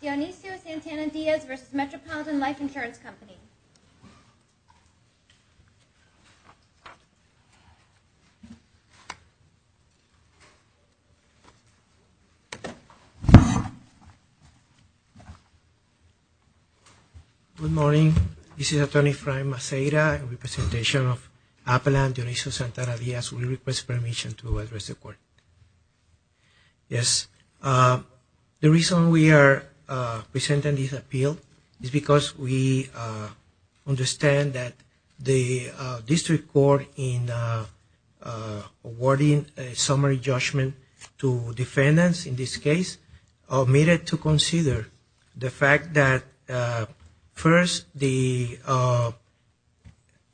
Dionisio Santana-Diaz v. Metropolitan Life Insurance Company. Good morning. This is Attorney Frank Maceira in representation of Appalachian Dionisio Santana-Diaz. We request permission to address the court. Yes. The reason we are presenting this appeal is because we understand that the district court in awarding a summary judgment to defendants in this case, omitted to consider the fact that first the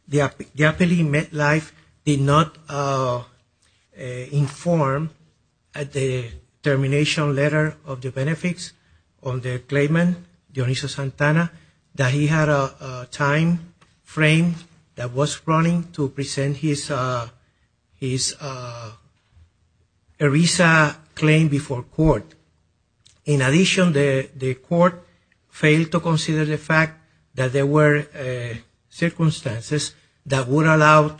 appellee met life did not inform at the termination letter of the benefits on the claimant, Dionisio Santana, that he had a time frame that was running to present his ERISA claim before court. In addition, the court failed to consider the fact that there were circumstances that would allow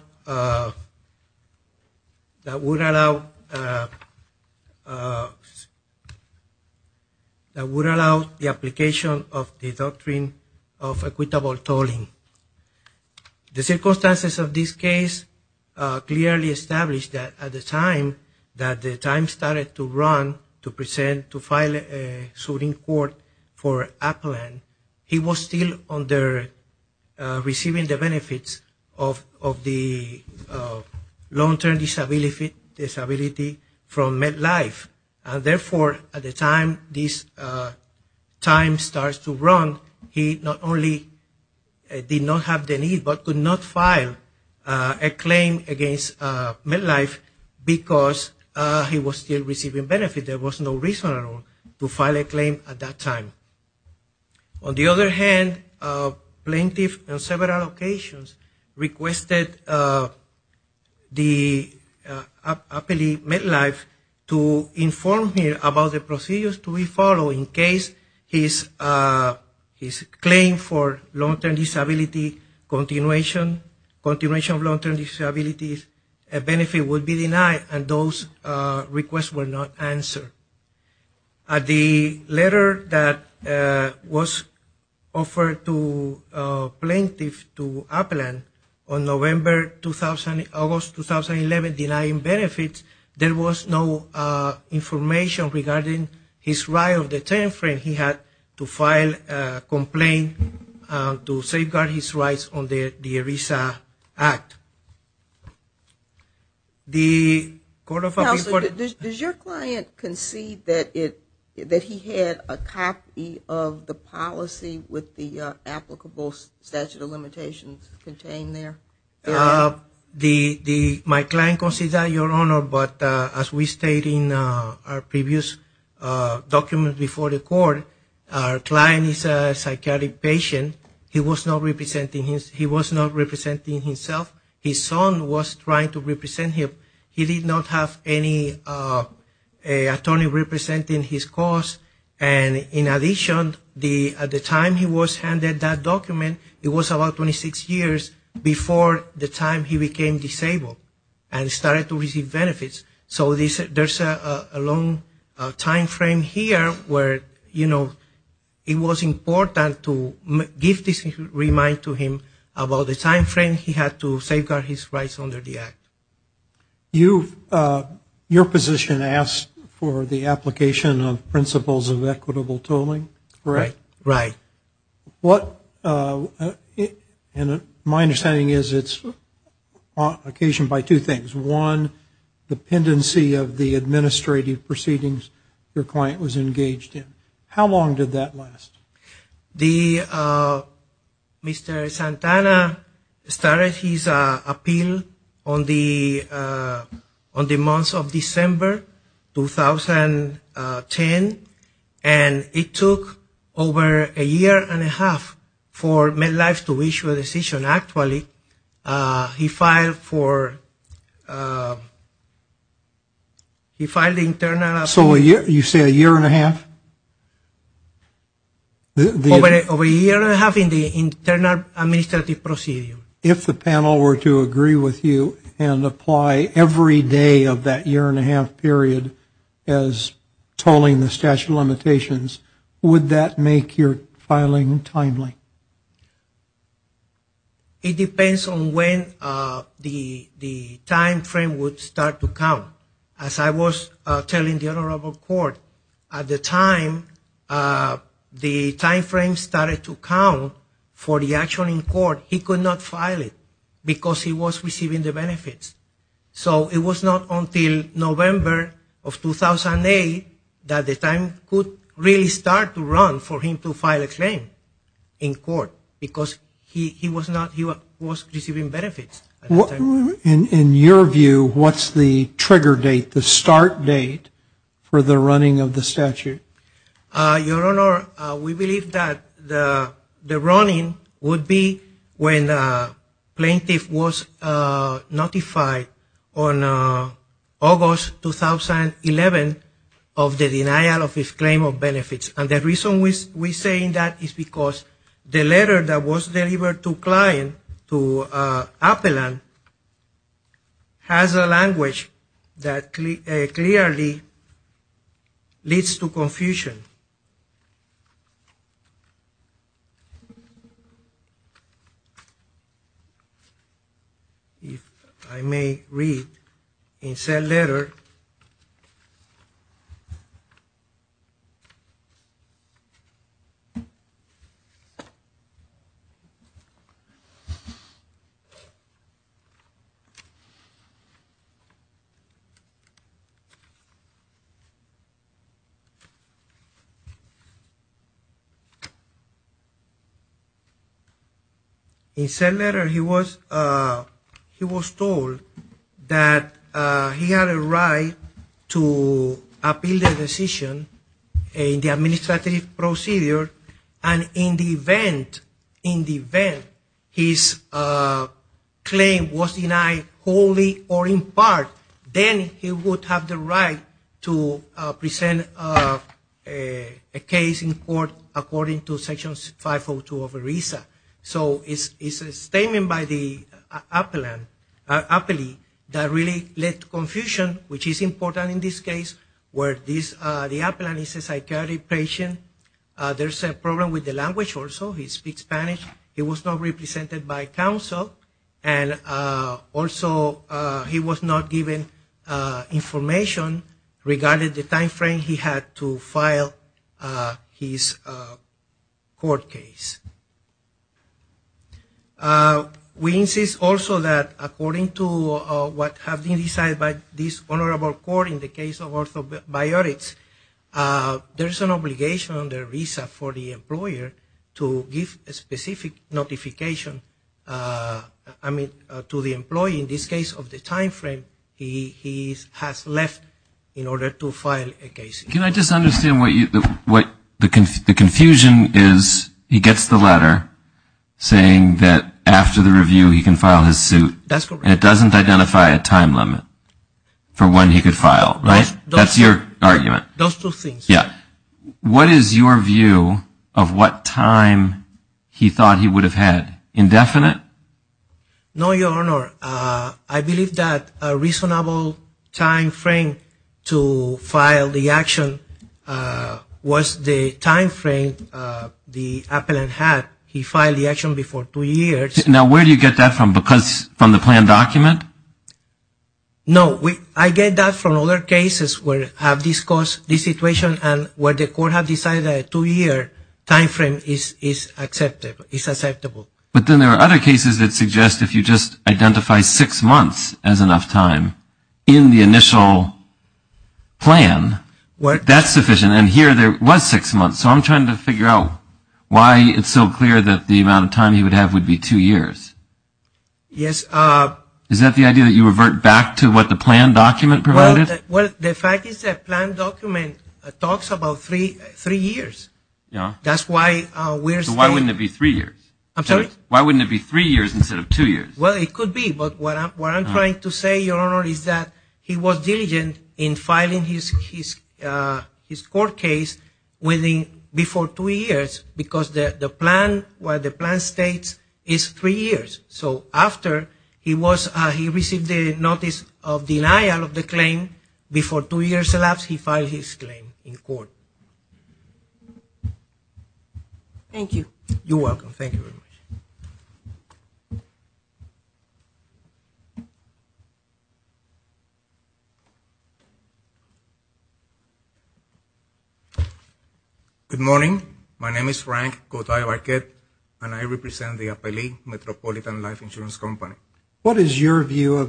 the application of the doctrine of equitable tolling. The circumstances of this case clearly establish that at the time that the time started to run to present to file a suit in court for Appalachian, he was still receiving the benefits of the long-term disability from met life. And therefore, at the time this time starts to run, he not only did not have the need but could not file a claim against met life because he was still receiving benefits. There was no reason at all to file a claim at that time. On the other hand, plaintiff on several occasions requested the appellee met life to inform him about the procedures to be followed in case his claim for long-term disability continuation of long-term disability benefit would be denied and those requests were not answered. At the letter that was offered to plaintiff to Appalachian on August 2011 denying benefits, there was no information regarding his right of the time frame he had to file a complaint to safeguard his rights on the ERISA Act. Does your client concede that he had a copy of the policy with the applicable statute of limitations contained there? My client concedes that, Your Honor, but as we stated in our previous document before the court, our client is a psychiatric patient. He was not representing himself. His son was trying to represent him. He did not have any attorney representing his cause. And in addition, at the time he was handed that document, it was about 26 years before the time he became disabled and started to receive benefits. So there's a long time frame here where, you know, it was important to give this remind to him about the time frame he had to safeguard his rights under the Act. Your position asks for the application of principles of equitable tolling? Right. And my understanding is it's occasioned by two things. One, the pendency of the administrative proceedings your client was engaged in. How long did that last? Mr. Santana started his appeal on the month of December 2010, and it took over a year. Over a year and a half for MedLife to issue a decision. Actually, he filed an internal appeal. So you say a year and a half? Over a year and a half in the internal administrative procedure. If the panel were to agree with you and apply every day of that year and a half period as tolling the statute of limitations, would that make it easier filing timely? It depends on when the time frame would start to count. As I was telling the Honorable Court, at the time the time frame started to count for the action in court, he could not file it because he was receiving the benefits. So it was not until November of 2008 that the time could really start to run for him to file. In your view, what's the trigger date, the start date for the running of the statute? Your Honor, we believe that the running would be when the plaintiff was notified on August 2011 of the denial of his claim of benefits. And the reason we're saying that is because the letter that was delivered to the client, to Appelan, has a language that clearly leads to confusion. If I may read the letter. In said letter, he was told that he had a right to appeal the decision in the administrative procedure. And in the event his claim was denied wholly or in part, then he would have the right to present a case in court according to Section 502 of ERISA. So it's a statement by Appelan that really led to confusion, which is important in this case. Where the Appelan is a psychiatric patient, there's a problem with the language also. He speaks Spanish, he was not represented by counsel, and also he was not given information regarding the time frame he had to file his court case. We insist also that according to what has been decided by this honorable court in the case of Orthopedics, there's an obligation under ERISA for the employer to give a specific notification to the employee in this case of the time frame he has left in order to file a case. Can I just understand what the confusion is? He gets the letter saying that after the review he can file his suit. And it doesn't identify a time limit for when he could file, right? That's your argument. What is your view of what time he thought he would have had? Indefinite? No, Your Honor. I believe that a reasonable time frame to file the action was the time frame the Appelan had. He filed the action before two years. Now, where do you get that from? From the plan document? No, I get that from other cases where I've discussed this situation and where the court has decided a two-year time frame is acceptable. But then there are other cases that suggest if you just identify six months as enough time in the initial plan, that's sufficient. And here there was six months, so I'm trying to figure out why it's so clear that the amount of time he would have would be two years. Is that the idea that you revert back to what the plan document provided? Well, the fact is that the plan document talks about three years. So why wouldn't it be three years? Why wouldn't it be three years instead of two years? Well, it could be, but what I'm trying to say, Your Honor, is that he was diligent in filing his court case before two years because the plan states it's three years. So after he received the notice of denial of the claim before two years elapsed, he filed his claim in court. Thank you. Good morning. Good morning, Your Honor. Good morning. Good morning. Good morning. Good morning. Good morning. Okay. Good morning. Okay. It was a February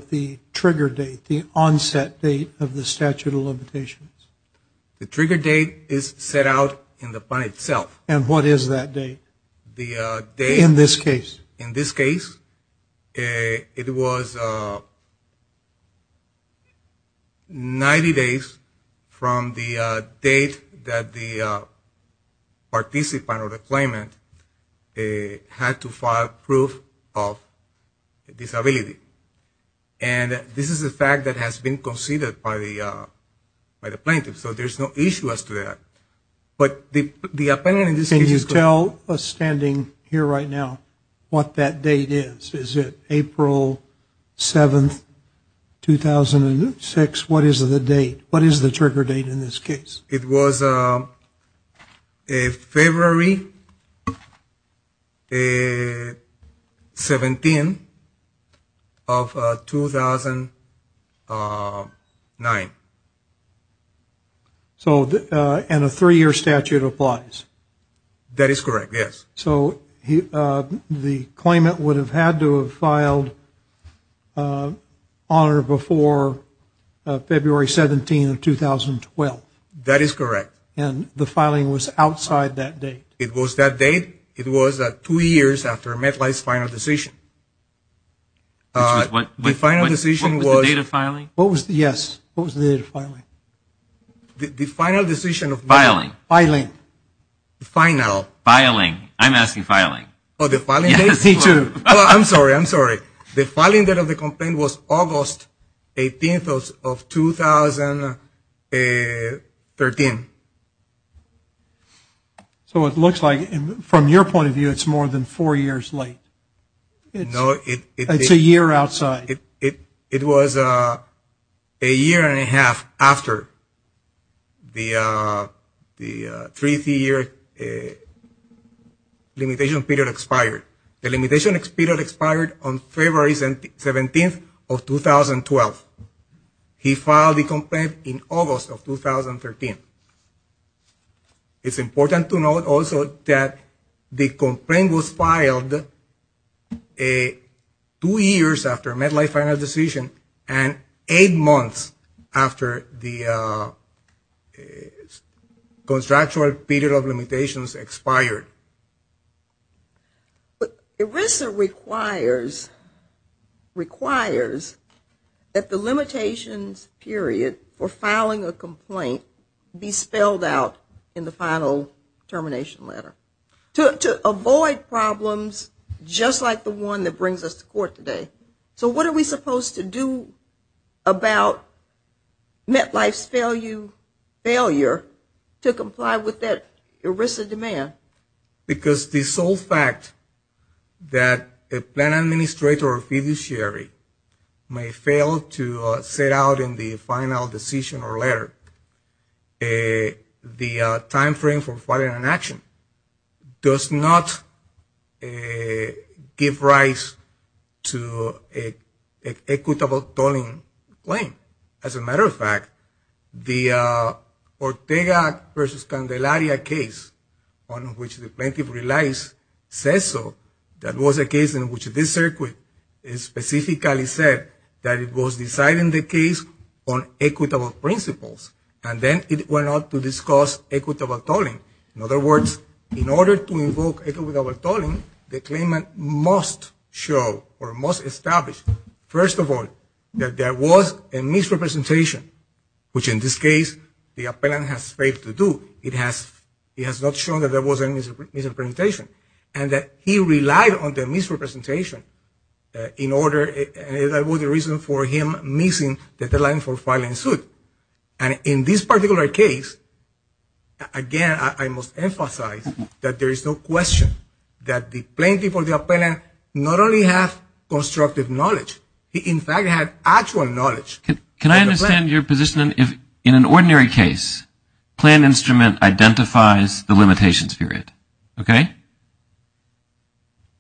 17 of 2009. So, and a three-year statute applies? That is correct, yes. So, the claimant would have had to have filed honor before February 17 of 2012? That is correct. And the filing was outside that date? It was that date. It was two years after Medline's final decision. The final decision was? What was the date of filing? Yes, what was the date of filing? The final decision of Medline. Filing. Filing. Final. Filing. I'm asking filing. Oh, the filing date? Yes, me too. Oh, I'm sorry. I'm sorry. The filing date of the complaint was August 18 of 2013. So, it looks like, from your point of view, it's more than four years late. No, it's a year outside. It was a year and a half after the three-year limitation period expired. The limitation period expired on February 17 of 2012. He filed the complaint in August of 2013. It's important to note also that the complaint was filed two years after Medline's final decision and eight months after the contractual period of limitations expired. ERISA requires that the limitations period for filing a complaint be spelled out in the final termination letter to avoid problems just like the one that brings us to court today. So, what are we supposed to do about MetLife's failure to comply with that ERISA demand? Because the sole fact that a plan administrator or fiduciary may fail to set out in the final decision or letter the timeframe for filing an action does not give rise to an equitable tolling claim. As a matter of fact, the Ortega versus Candelaria case on which the plaintiff relies says so. That was a case in which this circuit specifically said that it was deciding the case on equitable principles. And then it went on to discuss equitable tolling. In other words, in order to invoke equitable tolling, the claimant must show or must establish, first of all, that there was a misrepresentation, which in this case the appellant has failed to do. It has not shown that there was a misrepresentation and that he relied on the misrepresentation in order and that was the reason for him missing the deadline for filing suit. And in this particular case, again, I must emphasize that there is no question that the plaintiff or the appellant not only have constructive knowledge, he in fact had actual knowledge. Can I understand your position in an ordinary case, plan instrument identifies the limitations period, okay?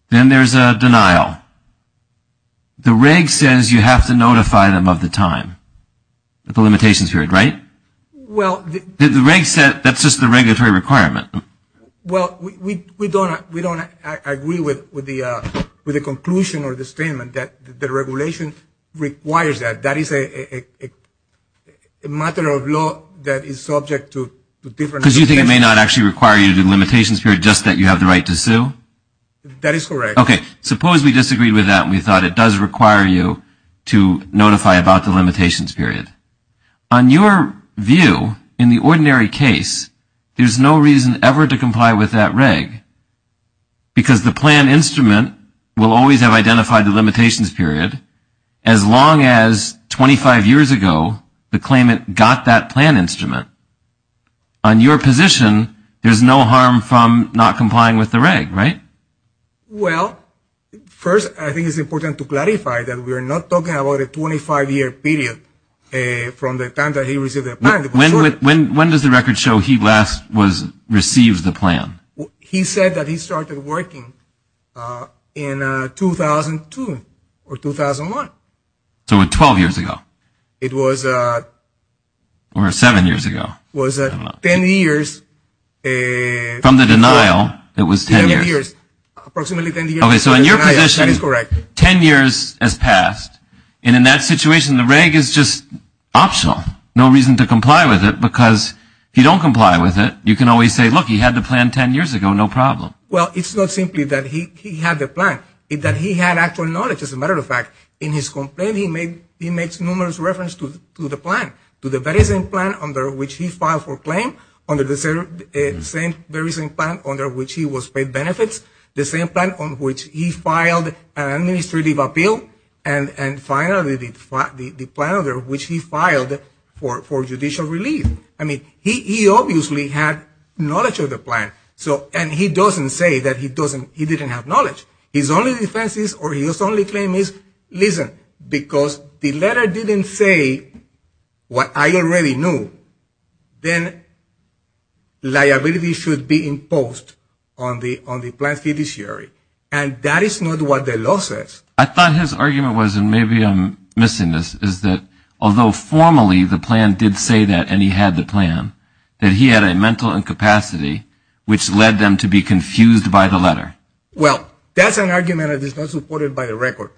Then there's a denial. The reg says you have to notify them of the time, the limitations period, right? The reg said that's just the regulatory requirement. Well, we don't agree with the conclusion or the statement that the regulation requires that. That is a matter of law that is subject to different... Because you think it may not actually require you to do the limitations period, just that you have the right to sue? That is correct. Okay, suppose we disagreed with that and we thought it does require you to notify about the limitations period. On your view, in the ordinary case, there's no reason ever to comply with that reg because the plan instrument will always have identified the limitations period as long as 25 years ago the claimant got that plan instrument. On your position, there's no harm from not complying with the reg, right? Well, first, I think it's important to clarify that we're not talking about a 25-year period from the time that he received the plan. When does the record show he last received the plan? He said that he started working in 2002 or 2001. So 12 years ago. Or seven years ago. No, it was 10 years... From the denial, it was 10 years. Approximately 10 years. So in your position, 10 years has passed, and in that situation, the reg is just optional. No reason to comply with it because if you don't comply with it, you can always say, look, he had the plan 10 years ago, no problem. Well, it's not simply that he had the plan, it's that he had actual knowledge, as a matter of fact. In his complaint, he makes numerous reference to the plan, to the very same plan under which he filed for claim, under the same very same plan under which he was paid benefits, the same plan on which he filed an administrative appeal, and finally, the plan under which he filed for judicial relief. I mean, he obviously had knowledge of the plan, and he doesn't say that he didn't have knowledge. His only defense is, or his only claim is, listen, because the letter didn't say what I already knew, then liability should be imposed on the plan's fiduciary. And that is not what the law says. I thought his argument was, and maybe I'm missing this, is that although formally the plan did say that and he had the plan, that he had a mental incapacity which led them to be confused by the letter. Well, that's an argument that is not supported by the record.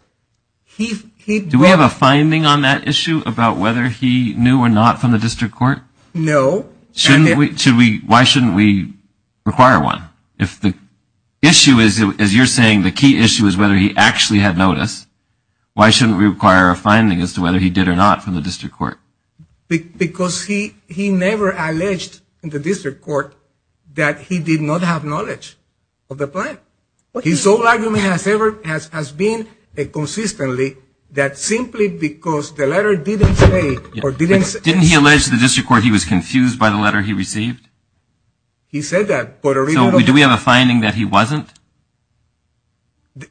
Do we have a finding on that issue about whether he knew or not from the district court? No. Why shouldn't we require one? If the issue is, as you're saying, the key issue is whether he actually had notice, why shouldn't we require a finding as to whether he did or not from the district court? Because he never alleged in the district court that he did not have knowledge of the plan. His whole argument has been consistently that simply because the letter didn't say or didn't suggest. Did he allege in the district court he was confused by the letter he received? He said that. So do we have a finding that he wasn't?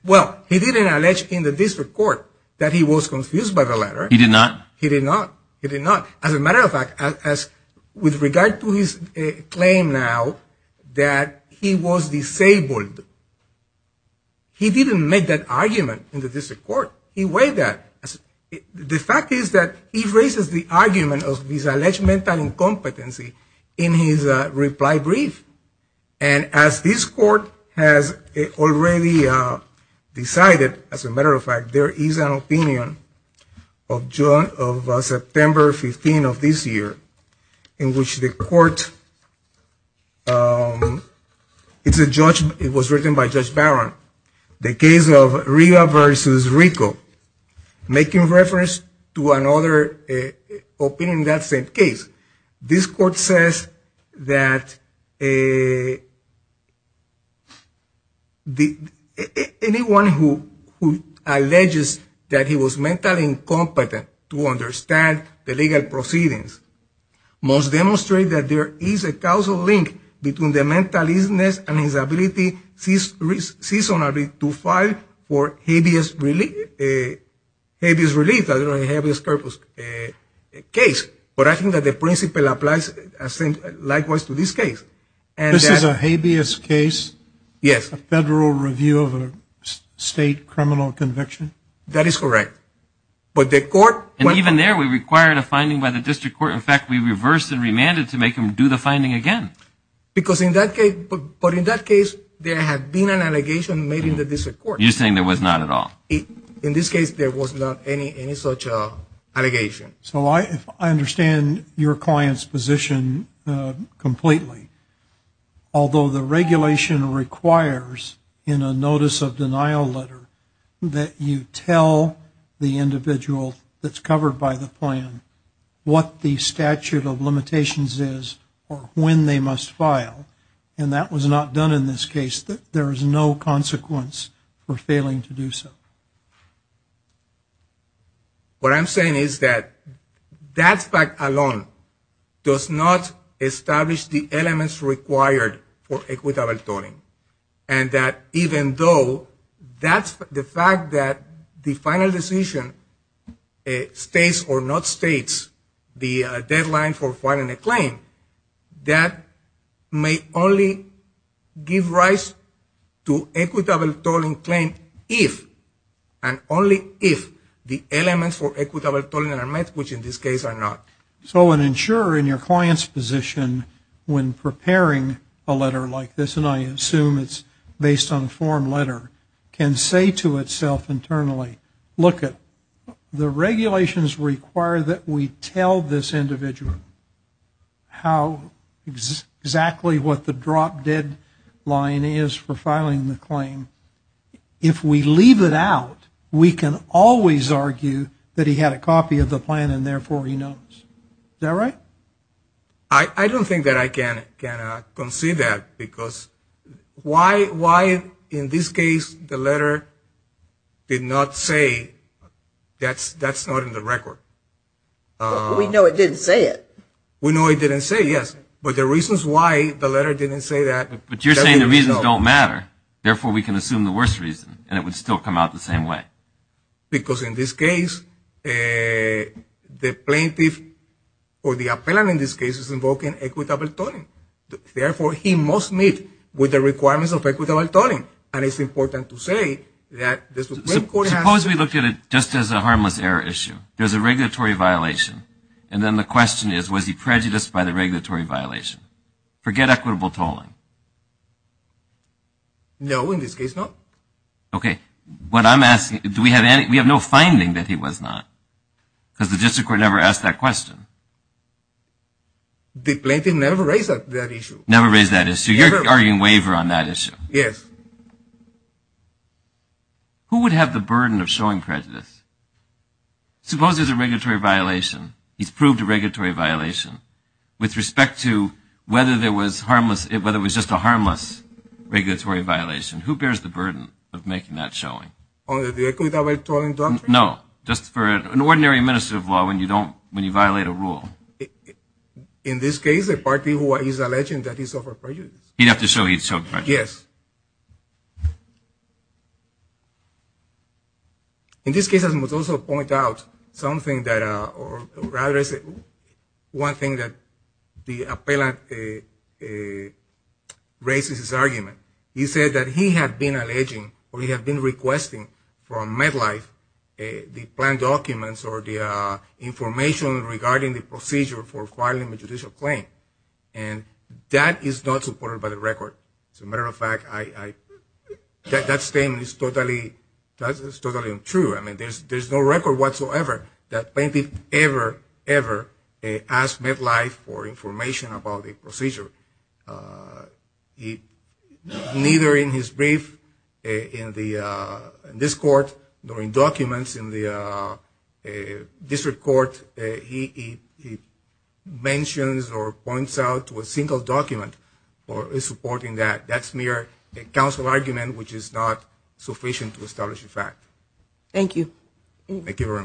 Well, he didn't allege in the district court that he was confused by the letter. He did not? He did not. As a matter of fact, with regard to his claim now that he was disabled, he didn't make that argument in the district court. He weighed that. The fact is that he raises the argument of his alleged mental incompetency in his reply brief. And as this court has already decided, as a matter of fact, there is an opinion of September 15 of this year, in which the court, it was written by Judge Barron, the case of Riva versus Rico, making reference to another opinion in that same case. This court says that anyone who alleges that he was mentally incompetent to understand the legal proceedings must demonstrate that there is a causal link between the mental illness and his ability seasonally to file for habeas release. I don't know the habeas corpus case, but I think that the principle applies likewise to this case. This is a habeas case? Yes. A federal review of a state criminal conviction? That is correct. And even there we required a finding by the district court. In fact, we reversed and remanded to make him do the finding again. But in that case there had been an allegation made in the district court. You're saying there was not at all? In this case there was not any such allegation. So I understand your client's position completely. Although the regulation requires in a notice of denial letter that you tell the individual that's covered by the plan what the statute of limitations is or when they must file. And that was not done in this case. There is no consequence for failing to do so. What I'm saying is that that fact alone does not establish the elements required for equitable tolling. And that even though that's the fact that the final decision states or not states the deadline for filing a claim, that may only give rise to equitable tolling claim if and only if the elements for equitable tolling are met, which in this case are not. So an insurer in your client's position, when preparing a letter like this, and I assume it's based on a form letter, can say to itself internally, look, the regulations require that we tell this individual how to file a claim. How exactly what the drop dead line is for filing the claim. If we leave it out, we can always argue that he had a copy of the plan and therefore he knows. Is that right? I don't think that I can concede that because why in this case the letter did not say that's not in the record? We know it didn't say it. We know it didn't say yes, but the reasons why the letter didn't say that. But you're saying the reasons don't matter. Therefore, we can assume the worst reason and it would still come out the same way. Because in this case, the plaintiff or the appellant in this case is invoking equitable tolling. Therefore, he must meet with the requirements of equitable tolling. Suppose we look at it just as a harmless error issue. There's a regulatory violation. And then the question is, was he prejudiced by the regulatory violation? Forget equitable tolling. No, in this case, no. Okay, what I'm asking, we have no finding that he was not. Because the district court never asked that question. The plaintiff never raised that issue. Never raised that issue. You're arguing waiver on that issue. Yes. Who would have the burden of showing prejudice? Suppose there's a regulatory violation. He's proved a regulatory violation. With respect to whether there was harmless, whether it was just a harmless regulatory violation. Who bears the burden of making that showing? On the equitable tolling doctrine? No, just for an ordinary administrative law when you violate a rule. In this case, the party who is alleging that he suffered prejudice. He'd have to show he'd suffered prejudice. Yes. Okay. In this case, I must also point out something that, or rather one thing that the appellant raises his argument. He said that he had been alleging, or he had been requesting from Medlife the plan documents or the information regarding the procedure for filing a judicial claim. And that is not supported by the record. As a matter of fact, that statement is totally untrue. There's no record whatsoever that plaintiff ever, ever asked Medlife for information about the procedure. Neither in his brief in this court nor in documents in the district court he mentions or points out to a single document for supporting that. That's mere counsel argument which is not sufficient to establish a fact. Thank you. Thank you very much.